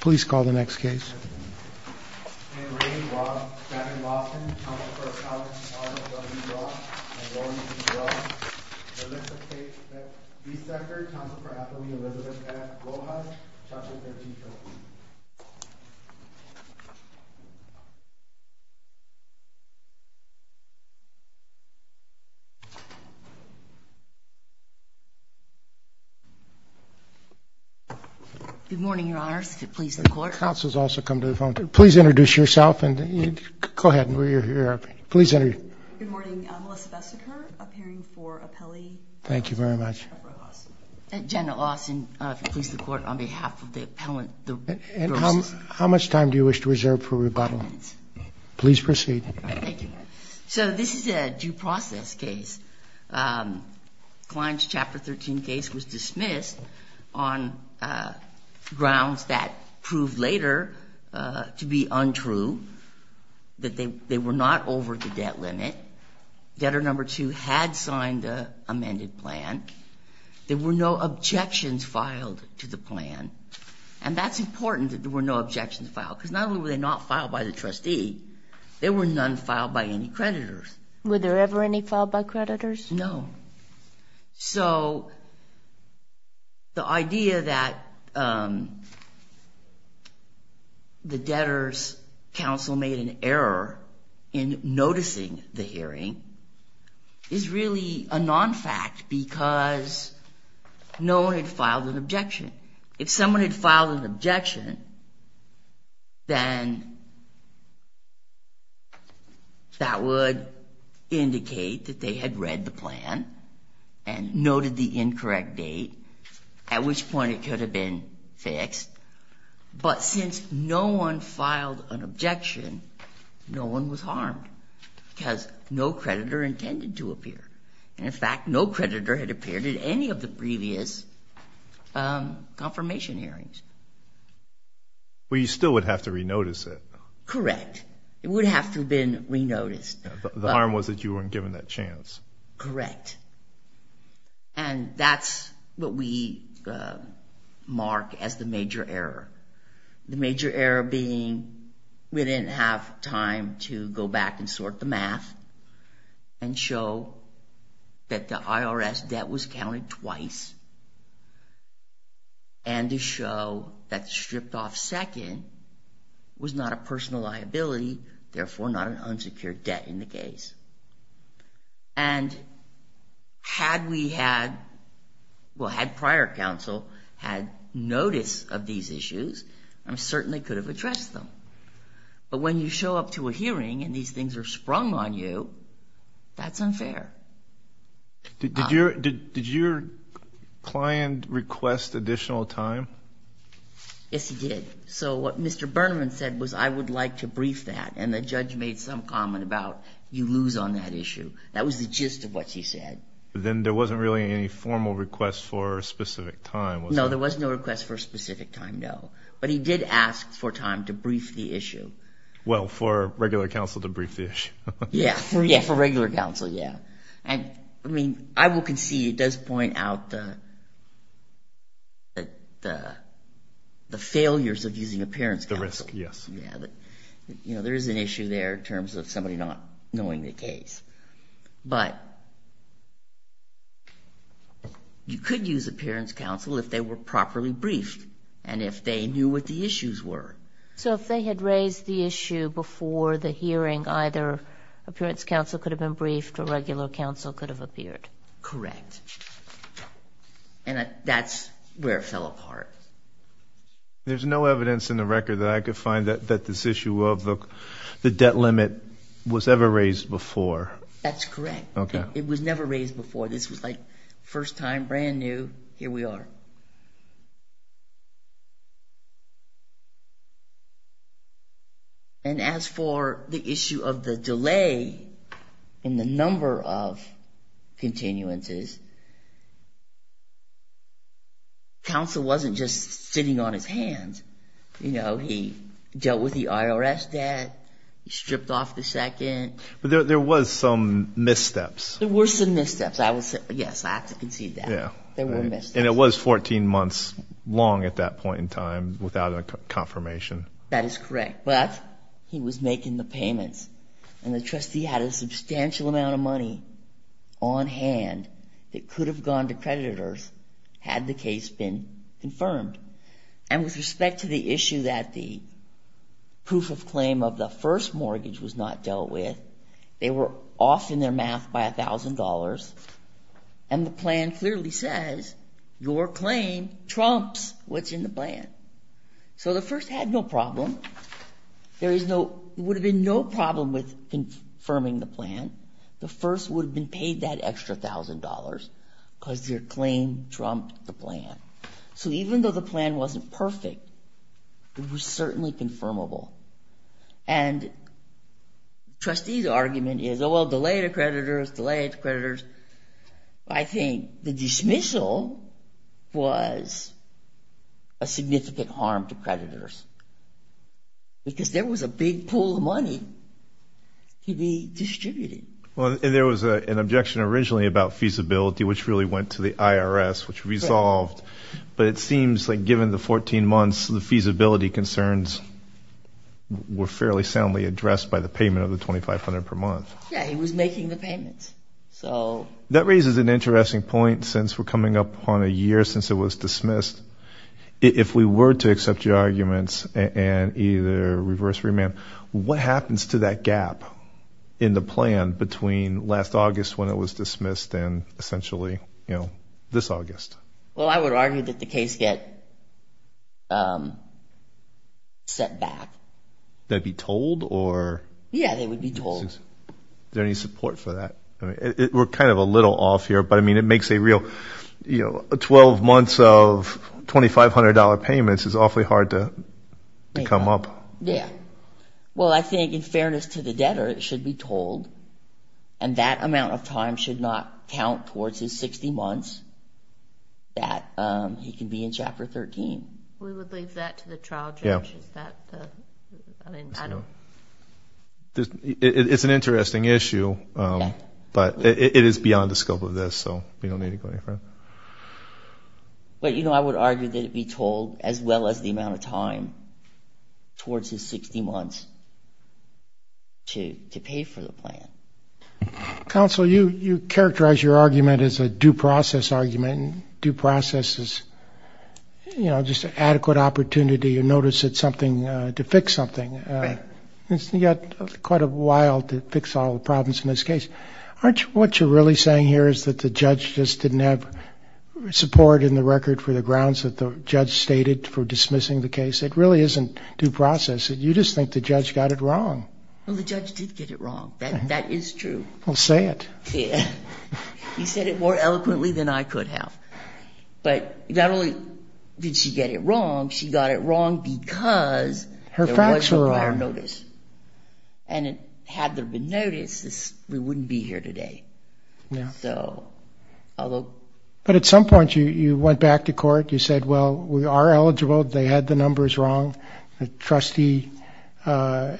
Please call the next case. In agree h at the Lawson Coun lets Elizabeth Ed at Gold. morning. Your Honor please also come to the folks. yourself and go ahead. And we're here. Please enter. Good morning. Melissa Vesica appearing for appellee. Thank you very much. Jenna Austin, please. The court on behalf of the appellant, how much time do you wish to reserve for rebuttal? Please proceed. So this is a due process case. Um, client's chapter 13 case was dismissed on, uh, grounds that prove later, uh, to be untrue, that they, they were not over the debt limit. Debtor number two had signed a amended plan. There were no objections filed to the plan. And that's important that there were no objections filed. Cause not only were they not filed by the trustee, there were none filed by any creditors. Were there ever any filed by creditors? No. So the idea that, um, the debtor's counsel made an error in noticing the hearing is really a non-fact because no one had filed an objection. If someone had filed an objection, then that would indicate that they had read the plan and noted the incorrect date, at which point it could have been fixed. But since no one filed an objection, no one was harmed because no creditor intended to appear. And in fact, no creditor had appeared at any of the previous, um, confirmation hearings. Well, you still would have to re-notice it. Correct. It would have to have been re-noticed. The harm was that you weren't given that chance. Correct. And that's what we, uh, mark as the major error. The major error being we didn't have time to go back and sort the math and show that the IRS debt was counted twice and to show that the stripped-off second was not a personal liability, therefore not an unsecured debt in the case. And had we had, well, had prior counsel had notice of these issues, I certainly could have addressed them. But when you show up to a hearing and these things are sprung on you, that's unfair. Did your client request additional time? Yes, he did. So what Mr. Burnman said was, I would like to brief that. And the judge made some comment about, you lose on that issue. That was the gist of what he said. But then there wasn't really any formal request for a specific time, was there? No, there was no request for a specific time, no. But he did ask for time to brief the issue. Well, for regular counsel to brief the issue. Yeah, for regular counsel, yeah. And I mean, I will concede it does point out the failures of using a parent's counsel. Yeah, that, you know, there is an issue there in terms of somebody not knowing the case. But you could use a parent's counsel if they were properly briefed and if they knew what the issues were. So if they had raised the issue before the hearing, either appearance counsel could have been briefed or regular counsel could have appeared. Correct. And that's where it fell apart. There's no evidence in the record that I could find that this issue of the debt limit was never raised before. That's correct. It was never raised before. This was like first time, brand new. Here we are. And as for the issue of the delay in the number of continuances, counsel wasn't just sitting on his hands. You know, he dealt with the IRS debt, he stripped off the second. But there was some missteps. There were some missteps. I would say, yes, I have to concede that. Yeah. There were missteps. And it was 14 months long at that point in time without a confirmation. That is correct. But he was making the payments and the trustee had a substantial amount of money on hand that could have gone to creditors had the case been confirmed. And with respect to the issue that the proof of claim of the first mortgage was not dealt with, they were off in their math by $1,000. And the plan clearly says, your claim trumps what's in the plan. So the first had no problem. There would have been no problem with confirming the plan. The first would have been paid that extra $1,000 because their claim trumped the plan. So even though the plan wasn't perfect, it was certainly confirmable. And the trustee's argument is, oh, well, delay to creditors, delay to creditors. I think the dismissal was a significant harm to creditors because there was a big pool of money to be distributed. Well, there was an objection originally about feasibility, which really went to the IRS, which resolved. But it seems like given the 14 months, the feasibility concerns were fairly soundly addressed by the payment of the $2,500 per month. Yeah, he was making the payments. So that raises an interesting point since we're coming up on a year since it was dismissed. If we were to accept your arguments and either reverse remand, what happens to that gap in the plan between last August when it was dismissed and essentially, you know, this August? Well, I would argue that the case get set back. That'd be told or? Yeah, they would be told. Is there any support for that? We're kind of a little off here, but I mean, it makes a real, you know, 12 months of $2,500 payments is awfully hard to come up. Yeah. Well, I think in fairness to the debtor, it should be told. And that amount of time should not count towards his 60 months that he can be in Chapter 13. We would leave that to the trial judge. Is that the, I mean, I don't. It's an interesting issue, but it is beyond the scope of this, so we don't need to go any further. But, you know, I would argue that it be told as well as the amount of time towards his 60 months to pay for the plan. Counsel, you characterize your due process argument, due process is, you know, just adequate opportunity to notice that something, to fix something. It's yet quite a while to fix all the problems in this case. Aren't you, what you're really saying here is that the judge just didn't have support in the record for the grounds that the judge stated for dismissing the case. It really isn't due process. You just think the judge got it wrong. Well, the judge did get it wrong. That, that is true. Well, say it. Yeah. He said it more eloquently than I could have, but not only did she get it wrong, she got it wrong because her facts were on notice and had there been notices, we wouldn't be here today. Yeah. Although, but at some point you went back to court, you said, well, we are eligible. They had the numbers wrong. The trustee, uh, uh,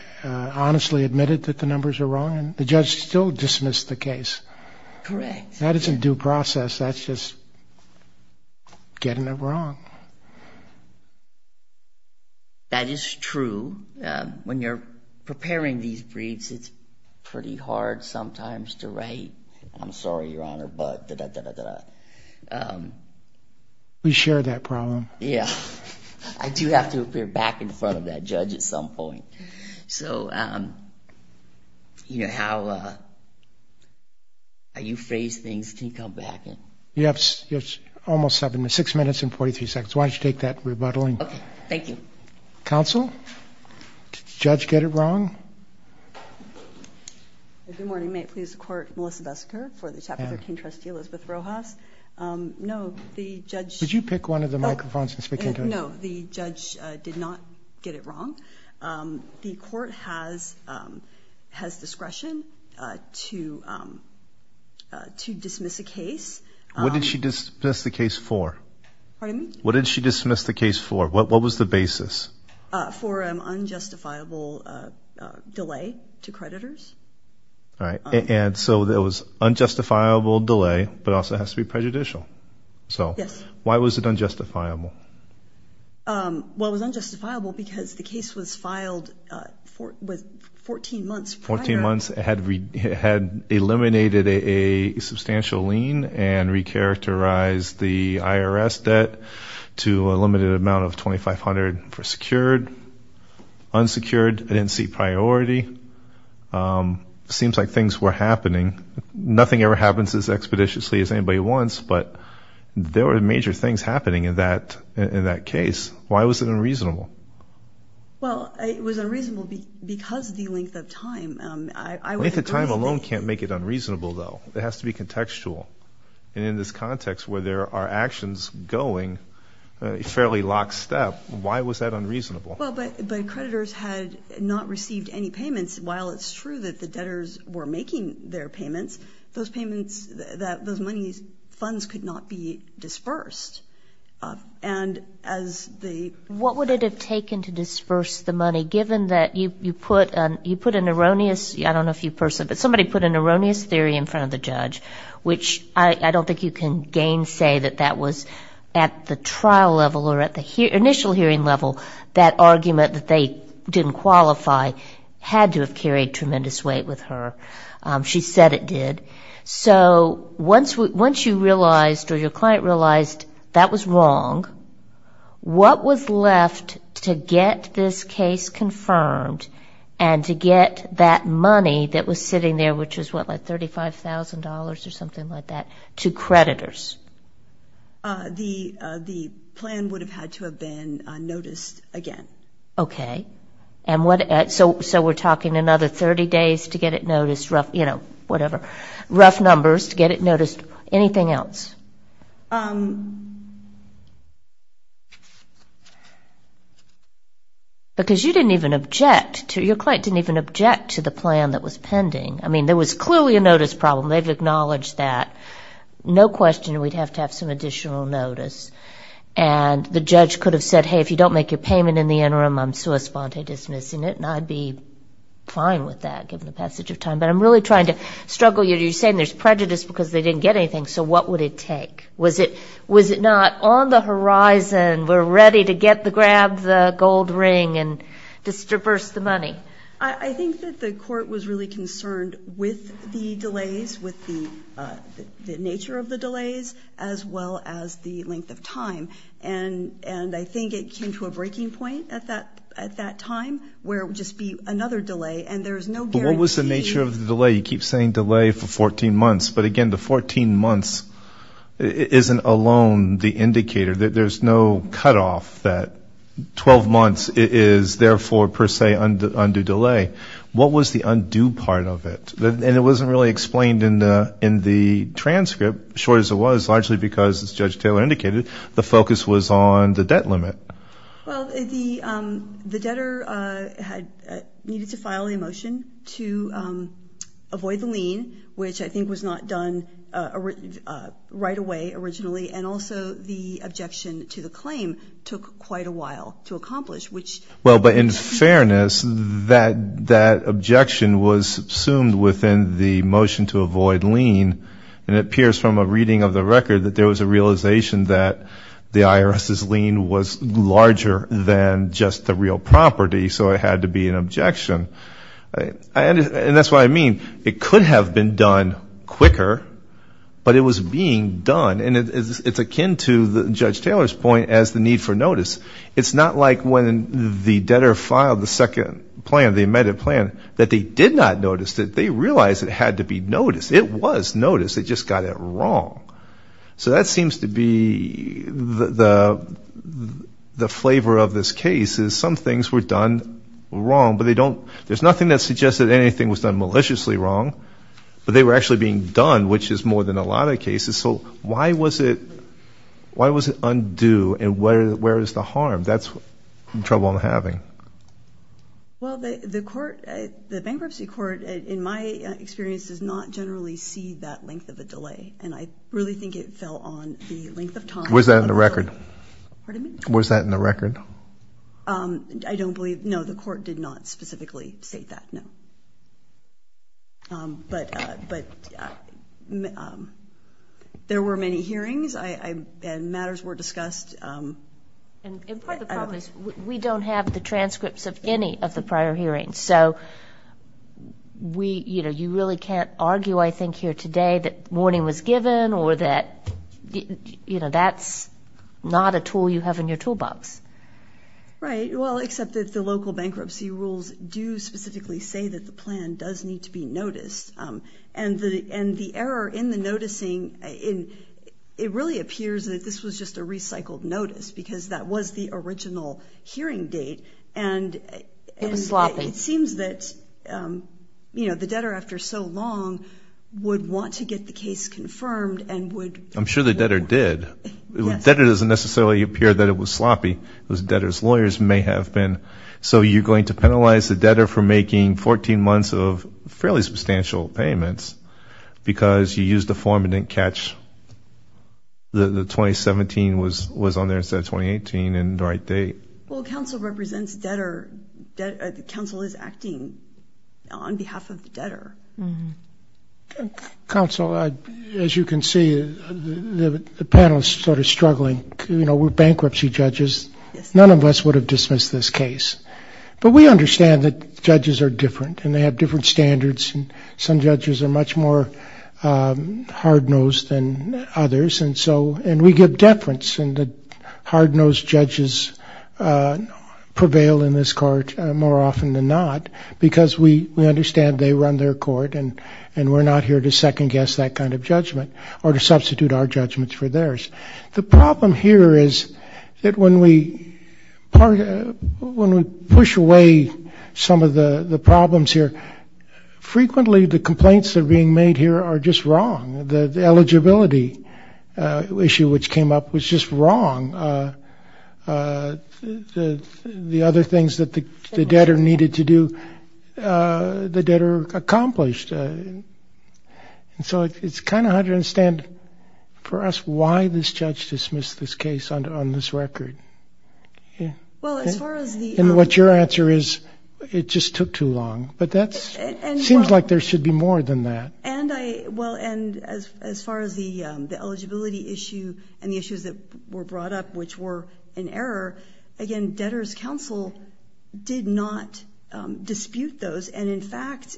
honestly admitted that the numbers are wrong and the judge still dismissed the case. Correct. That isn't due process. That's just getting it wrong. That is true. Um, when you're preparing these briefs, it's pretty hard sometimes to write. I'm sorry, your honor, but da, da, da, da, da, um, we share that problem. Yeah. I do have to appear back in front of that judge at some point. So, um, you know, how, uh, are you phrased things? Can you come back? You have almost seven to six minutes and 43 seconds. Why don't you take that rebuttaling? Thank you. Counsel judge, get it wrong. Good morning. May it please the court, Melissa Besker for the chapter 13 trustee, Elizabeth Rojas. Um, no, the judge, did you pick one of the microphones? No, the judge did not get it wrong. Um, the court has, um, has discretion, uh, to, um, uh, to dismiss a case. What did she just miss the case for? Pardon me? What did she dismiss the case for? What, what was the basis? Uh, for an unjustifiable, uh, uh, delay to creditors. All right. And so there was unjustifiable delay, but also it has to be prejudicial. So why was it unjustifiable? Um, well, it was unjustifiable because the case was filed, uh, for, with 14 months, 14 months had, had eliminated a substantial lien and recharacterized the IRS debt to a limited amount of 2,500 for secured, unsecured. I didn't see priority. Um, seems like things were happening. Nothing ever happens as expeditiously as anybody wants, but there were major things happening in that, in that case. Why was it unreasonable? Well, it was unreasonable because the length of time, um, I, I wouldn't. If the time alone can't make it unreasonable though, it has to be contextual. And in this context where there are actions going, uh, fairly lockstep, why was that unreasonable? Well, but, but creditors had not received any payments. While it's true that the debtors were making their payments, those payments, that those monies, funds could not be dispersed. Uh, and as the. What would it have taken to disperse the money, given that you, you put an, you put an erroneous, I don't know if you person, but somebody put an erroneous theory in front of the judge, which I don't think you can gain say that that was at the trial level or at the initial hearing level, that argument that they didn't qualify had to have carried tremendous weight with her. Um, she said it did. So once we, once you realized or your client realized that was wrong, what was left to get this case confirmed and to get that money that was sitting there, which was what, like $35,000 or something like that to creditors? Uh, the, uh, the plan would have had to have been noticed again. Okay. And what, so, so we're talking another 30 days to get it noticed rough, you know, whatever rough numbers to get it noticed. Anything else? Um, because you didn't even object to your client, didn't even object to the plan that was pending. I mean, there was clearly a notice problem. They've acknowledged that no question, we'd have to have some additional notice. And the judge could have said, Hey, if you don't make your payment in the interim, I'm sui sponte dismissing it. And I'd be fine with that given the passage of time, but I'm really trying to struggle. You're saying there's prejudice because they didn't get anything. So what would it take? Was it, was it not on the horizon? We're ready to get the, grab the gold ring and just traverse the money. I think that the court was really concerned with the delays with the, uh, the nature of the delays as well as the length of time. And, and I think it came to a breaking point at that, at that time where it would just be another delay and there's no guarantee. What was the nature of the delay? You keep saying delay for 14 months, but again, the 14 months isn't alone. The indicator that there's no cutoff that 12 months is therefore per se under, under delay. What was the undo part of it? And it wasn't really explained in the, in the transcript short as it was largely because as judge Taylor indicated, the focus was on the debt limit. Well, the, um, the debtor, uh, had needed to file a motion to, um, avoid the lien, which I right away originally, and also the objection to the claim took quite a while to accomplish, which. Well, but in fairness, that, that objection was assumed within the motion to avoid lien. And it appears from a reading of the record that there was a realization that the IRS's lien was larger than just the real property. So it had to be an objection. I, and that's what I mean. It could have been done quicker but it was being done. And it's akin to the judge Taylor's point as the need for notice. It's not like when the debtor filed the second plan, the amended plan that they did not notice that they realized it had to be noticed. It was noticed. They just got it wrong. So that seems to be the, the, the flavor of this case is some things were done wrong, but they don't, there's nothing that suggests that anything was done maliciously wrong, but they were actually being done, which is more than a lot of cases. So why was it, why was it undue and where, where is the harm? That's the trouble I'm having. Well, the court, the bankruptcy court, in my experience does not generally see that length of a delay. And I really think it fell on the length of time. Was that in the record? Pardon me? Was that in the record? I don't believe, no, the court did not specifically state that. No. But, but there were many hearings, I, I, and matters were discussed. And part of the problem is we don't have the transcripts of any of the prior hearings. So we, you know, you really can't argue, I think here today that warning was given or that, you know, that's not a tool you have in your toolbox. Right. Well, except that the local bankruptcy rules do specifically say that the plan does need to be noticed. And the, and the error in the noticing in, it really appears that this was just a recycled notice because that was the original hearing date. And it seems that, you know, the debtor after so long would want to get the case confirmed and would. I'm sure the debtor did. Debtor doesn't necessarily appear that it was sloppy. It was debtor's lawyers may have been. So you're going to penalize the 14 months of fairly substantial payments because you used the form and didn't catch the 2017 was, was on there instead of 2018 and the right date. Well, counsel represents debtor debt. Counsel is acting on behalf of the debtor. Counsel, as you can see, the panel is sort of struggling. You know, we're bankruptcy judges. None of us would have dismissed this case, but we understand that the judges are different and they have different standards. And some judges are much more hard-nosed than others. And so, and we give deference and the hard-nosed judges prevail in this court more often than not, because we understand they run their court and, and we're not here to second guess that kind of judgment or to substitute our judgments for theirs. The problem here is that when we part, when we push away some of the problems here, frequently the complaints that are being made here are just wrong. The eligibility issue, which came up was just wrong. The other things that the debtor needed to do, the debtor accomplished. And so it's kind of hard to understand for us why this judge dismissed this case on this record. Well, as far as the, and what your answer is, it just took too long, but that's, it seems like there should be more than that. And I, well, and as, as far as the, the eligibility issue and the issues that were brought up, which were an error, again, debtor's counsel did not dispute those. And in fact,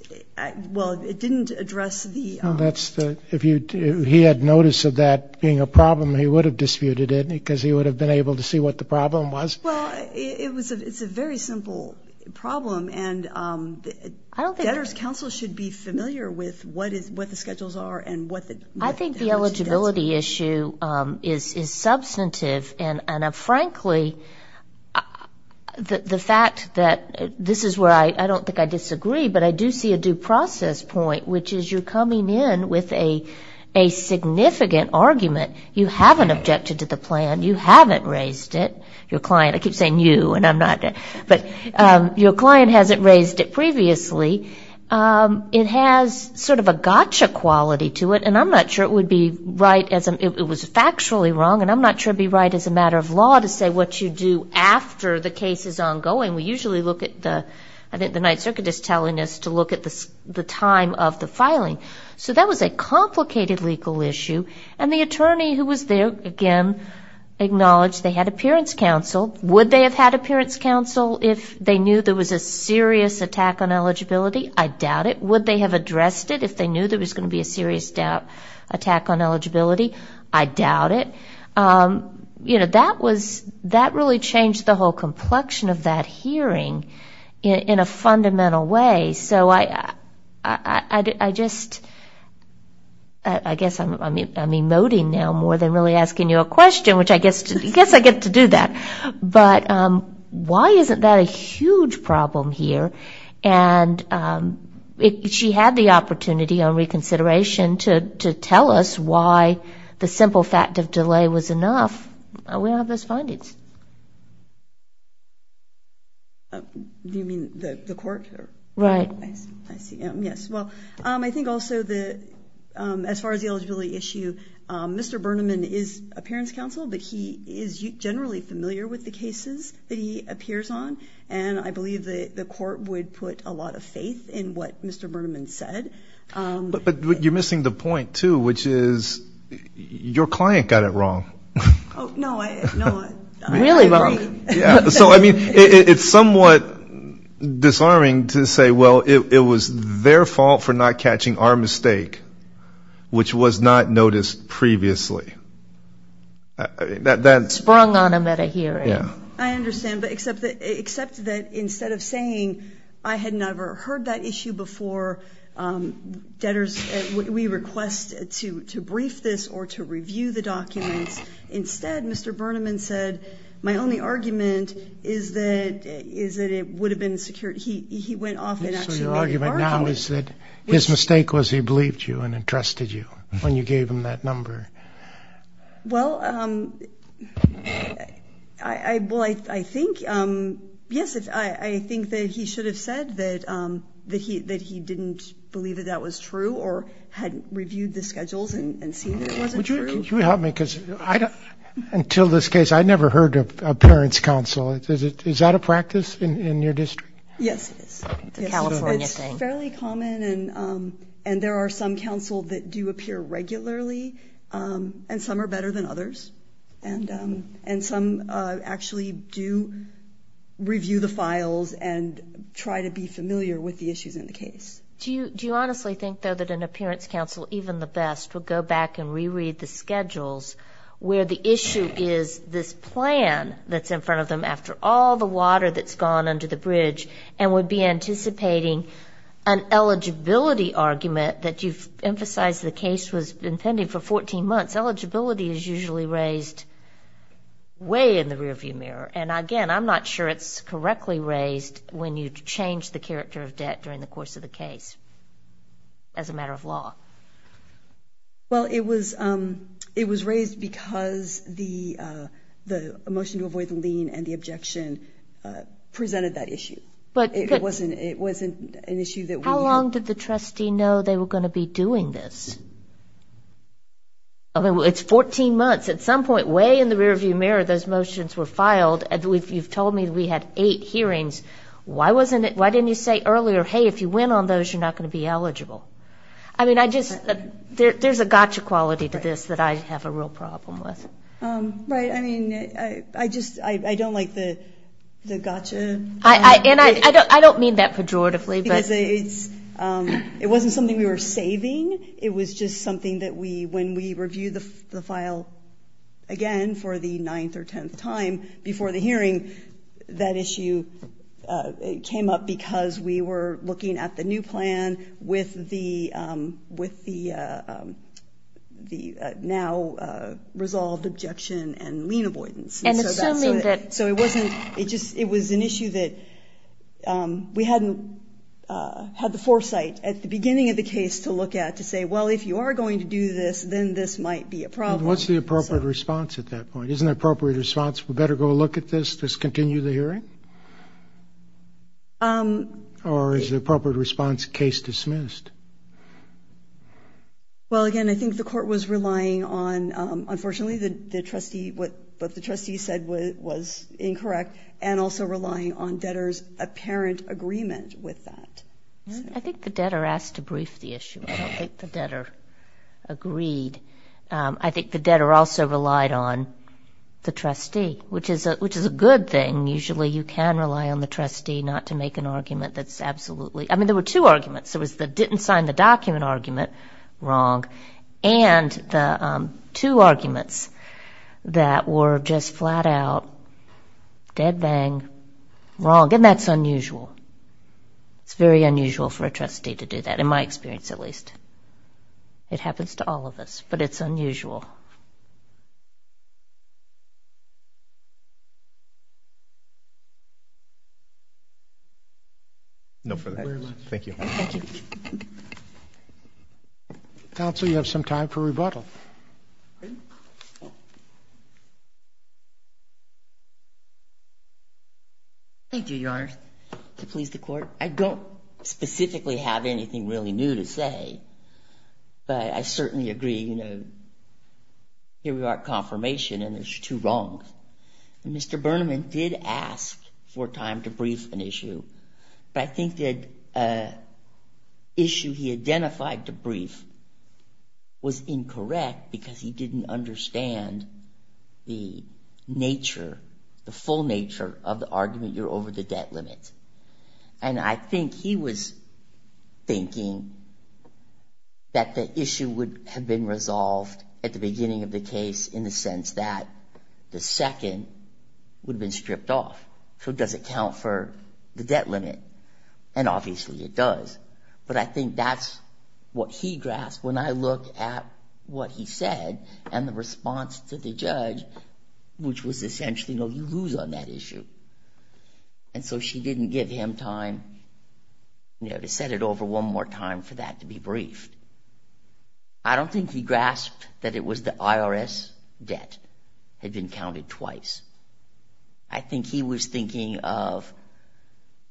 well, it didn't address the, that's the, if he had notice of that being a problem, he would have disputed it because he would have been able to see what the problem was. Well, it was a, it's a very simple problem and debtor's counsel should be familiar with what is, what the schedules are and what the, I think the eligibility issue is, is substantive. And, and a, frankly, the fact that this is where I, I don't think I disagree, but I do see a due process point, which is you're coming in with a, a significant argument. You haven't objected to the plan. You haven't raised it. Your client, I keep saying you and I'm not, but your client hasn't raised it previously. It has sort of a gotcha quality to it, and I'm not sure it would be right as it was factually wrong, and I'm not sure it'd be right as a matter of law to say what you do after the case is ongoing. We usually look at the, I think the Ninth Circuit is telling us to look at the, the time of the filing. So that was a complicated legal issue and the attorney who was there, again, acknowledged they had appearance counsel. Would they have had appearance counsel if they knew there was a serious attack on eligibility? I doubt it. Would they have addressed it if they knew there was going to be a serious doubt, attack on eligibility? I doubt it. You know, that was, that really changed the whole complexion of that hearing in a fundamental way. So I, I, I just, I guess I'm, I mean, I'm emoting now more than really asking you a question, which I guess, I guess I get to do that. But why isn't that a huge problem here? And if she had the opportunity on reconsideration to, to tell us why the simple fact of delay was enough, we don't have those findings. Do you mean the court? Right. I see. Yes. Well, I think also the, as far as the eligibility issue, Mr. Bernman, I don't know, but he is generally familiar with the cases that he appears on. And I believe that the court would put a lot of faith in what Mr. Bernman said. But, but you're missing the point too, which is your client got it wrong. No, I, no, I, I agree. Really wrong. Yeah. So, I mean, it's somewhat disarming to say, well, it was their fault for not catching our mistake, which was not noticed previously. That, that sprung on him at a hearing. I understand. But except that, except that instead of saying I had never heard that issue before debtors, we request to, to brief this or to review the documents instead, Mr. Bernman said, my only argument is that, is that it would have been secured. He, he went off and actually made an argument. So your argument now is that his mistake was he believed you and entrusted you when you gave him that number. Well, I, I, well, I, I think, yes, I think that he should have said that, that he, that he didn't believe that that was true or hadn't reviewed the schedules and see that it wasn't true. Would you, could you help me? Cause I don't, until this case, I never heard of a parents council. Is it, is that a practice in your district? Yes, it is. It's a California thing. It's fairly common. And, and there are some council that do appear regularly. And some are better than others. And, and some actually do review the files and try to be familiar with the issues in the case. Do you, do you honestly think though, that an appearance council, even the best would go back and reread the schedules where the issue is this plan that's in front of them after all the water that's gone under the bridge and would be anticipating an eligibility argument that you've emphasized the case was impending for 14 months, eligibility is usually raised way in the rear view mirror. And again, I'm not sure it's correctly raised when you change the character of debt during the course of the case as a matter of law. Well, it was it was raised because the the motion to avoid the lien and the objection presented that issue. But it wasn't, it wasn't an issue that we... How long did the trustee know they were going to be doing this? I mean, it's 14 months at some point, way in the rear view mirror, those motions were filed. And we've, you've told me that we had eight hearings. Why wasn't it, why didn't you say earlier, Hey, if you went on those, you're not going to be eligible. I mean, I just, there, there's a gotcha quality to this that I have a real problem with. Right. I mean, I, I just, I, I don't like the, the gotcha. I, I, and I, I don't, I don't mean that pejoratively. Because it's, it wasn't something we were saving. It was just something that we, when we review the file again for the ninth or 10th time before the hearing, that issue came up because we were looking at the new plan with the, with the, the now resolved objection and lien avoidance. And assuming that... So it wasn't, it just, it was an issue that we hadn't had the foresight at the beginning of the case to look at, to say, well, if you are going to do this, then this might be a problem. What's the appropriate response at that point? Isn't that appropriate response? We better go look at this. Let's continue the hearing? Um, or is the appropriate response case dismissed? Well, again, I think the court was relying on, um, unfortunately the, the trustee, what, what the trustee said was incorrect and also relying on debtors apparent agreement with that. I think the debtor asked a different version of the issue. I don't think the debtor agreed. Um, I think the debtor also relied on the trustee, which is a, which is a good thing. Usually you can rely on the trustee not to make an argument that's absolutely, I mean, there were two arguments. There was the didn't sign the document argument wrong. And the, um, two arguments that were just flat out dead bang wrong. And that's unusual. It's very unusual for a trustee to do that. In my experience, at least it happens to all of us, but it's unusual. No further. Thank you. Counsel, you have some time for rebuttal. Thank you. Your to please the court. I don't specifically have anything really new to say, but I certainly agree. You know, here we are at confirmation and there's two wrongs. Mr. Burneman did ask for time to brief an issue, but I think that a issue he identified to brief was incorrect because he didn't understand the nature, the full nature of the argument. You're over the debt limit. And I think he was thinking that the issue would have been resolved at the beginning of the case in the sense that the second would have been stripped off. So does it count for the debt limit? And obviously it does. But I think that's what he grasped. When I look at what he said and the response to the judge, which was essentially, no, you lose on that issue. And so she didn't give him time to set it over one more time for that to be briefed. I don't think he grasped that it was the IRS debt had been counted twice. I think he was thinking of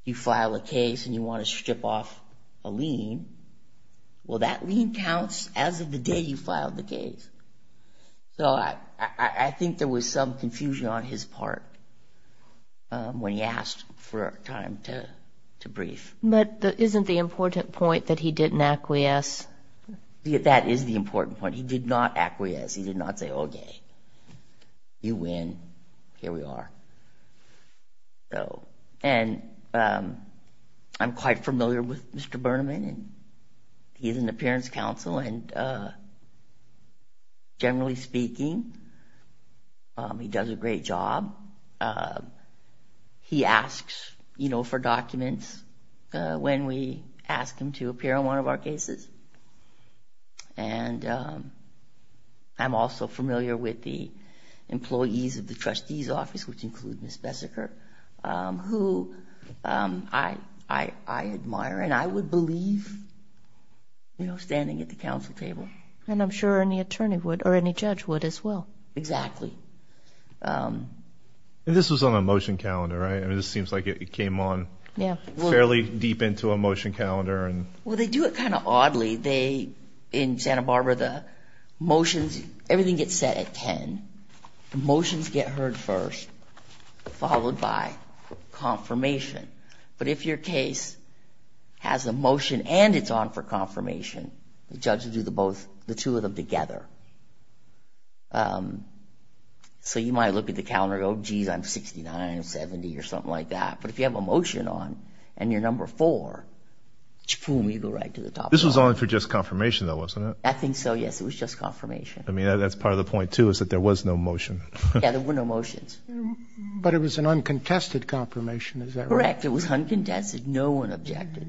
you file a case and you want to strip off a lien. Well, that lien counts as of the day you filed the case. So I think there was some confusion on his part. When he asked for time to brief. But isn't the important point that he didn't acquiesce? That is the important point. He did not acquiesce. He did not say, OK, you win. Here we are. And I'm quite familiar with Mr. Burnham and he's an appearance counsel. And generally speaking, he does a great job. He asks, you know, for documents when we ask him to appear on one of our cases. And I'm also familiar with the employees of the trustee's office, which include Ms. Besseker, who I admire and I would believe, you know, standing at the council table. And I'm sure any attorney would or any judge would as well. Exactly. And this was on a motion calendar, right? I mean, this seems like it came on fairly deep into a motion calendar. Well, they do it kind of oddly. They, in Santa Barbara, the motions, everything gets set at 10. Motions get heard first, followed by confirmation. But if your case has a motion and it's on for confirmation, the judge will do the both, the two of them together. So you might look at the calendar, oh, geez, I'm 69, I'm 70 or something like that. But if you have a motion on and you're number four, boom, you go right to the top. This was only for just confirmation though, wasn't it? I think so. Yes, it was just confirmation. I mean, that's part of the point too, is that there was no motion. Yeah, there were no motions. But it was an uncontested confirmation, is that right? Correct. It was uncontested. No one objected.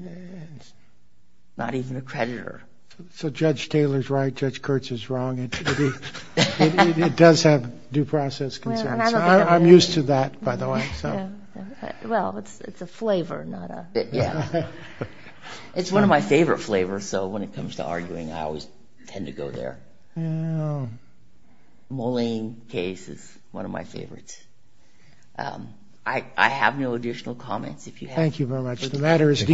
Not even a creditor. So Judge Taylor's right, Judge Kurtz is wrong. It does have due process concerns. I'm used to that, by the way. Well, it's a flavor, not a... Yeah. It's one of my favorite flavors. So when it comes to arguing, I always tend to go there. Moline case is one of my favorites. I have no additional comments if you have. Thank you very much. The matter is...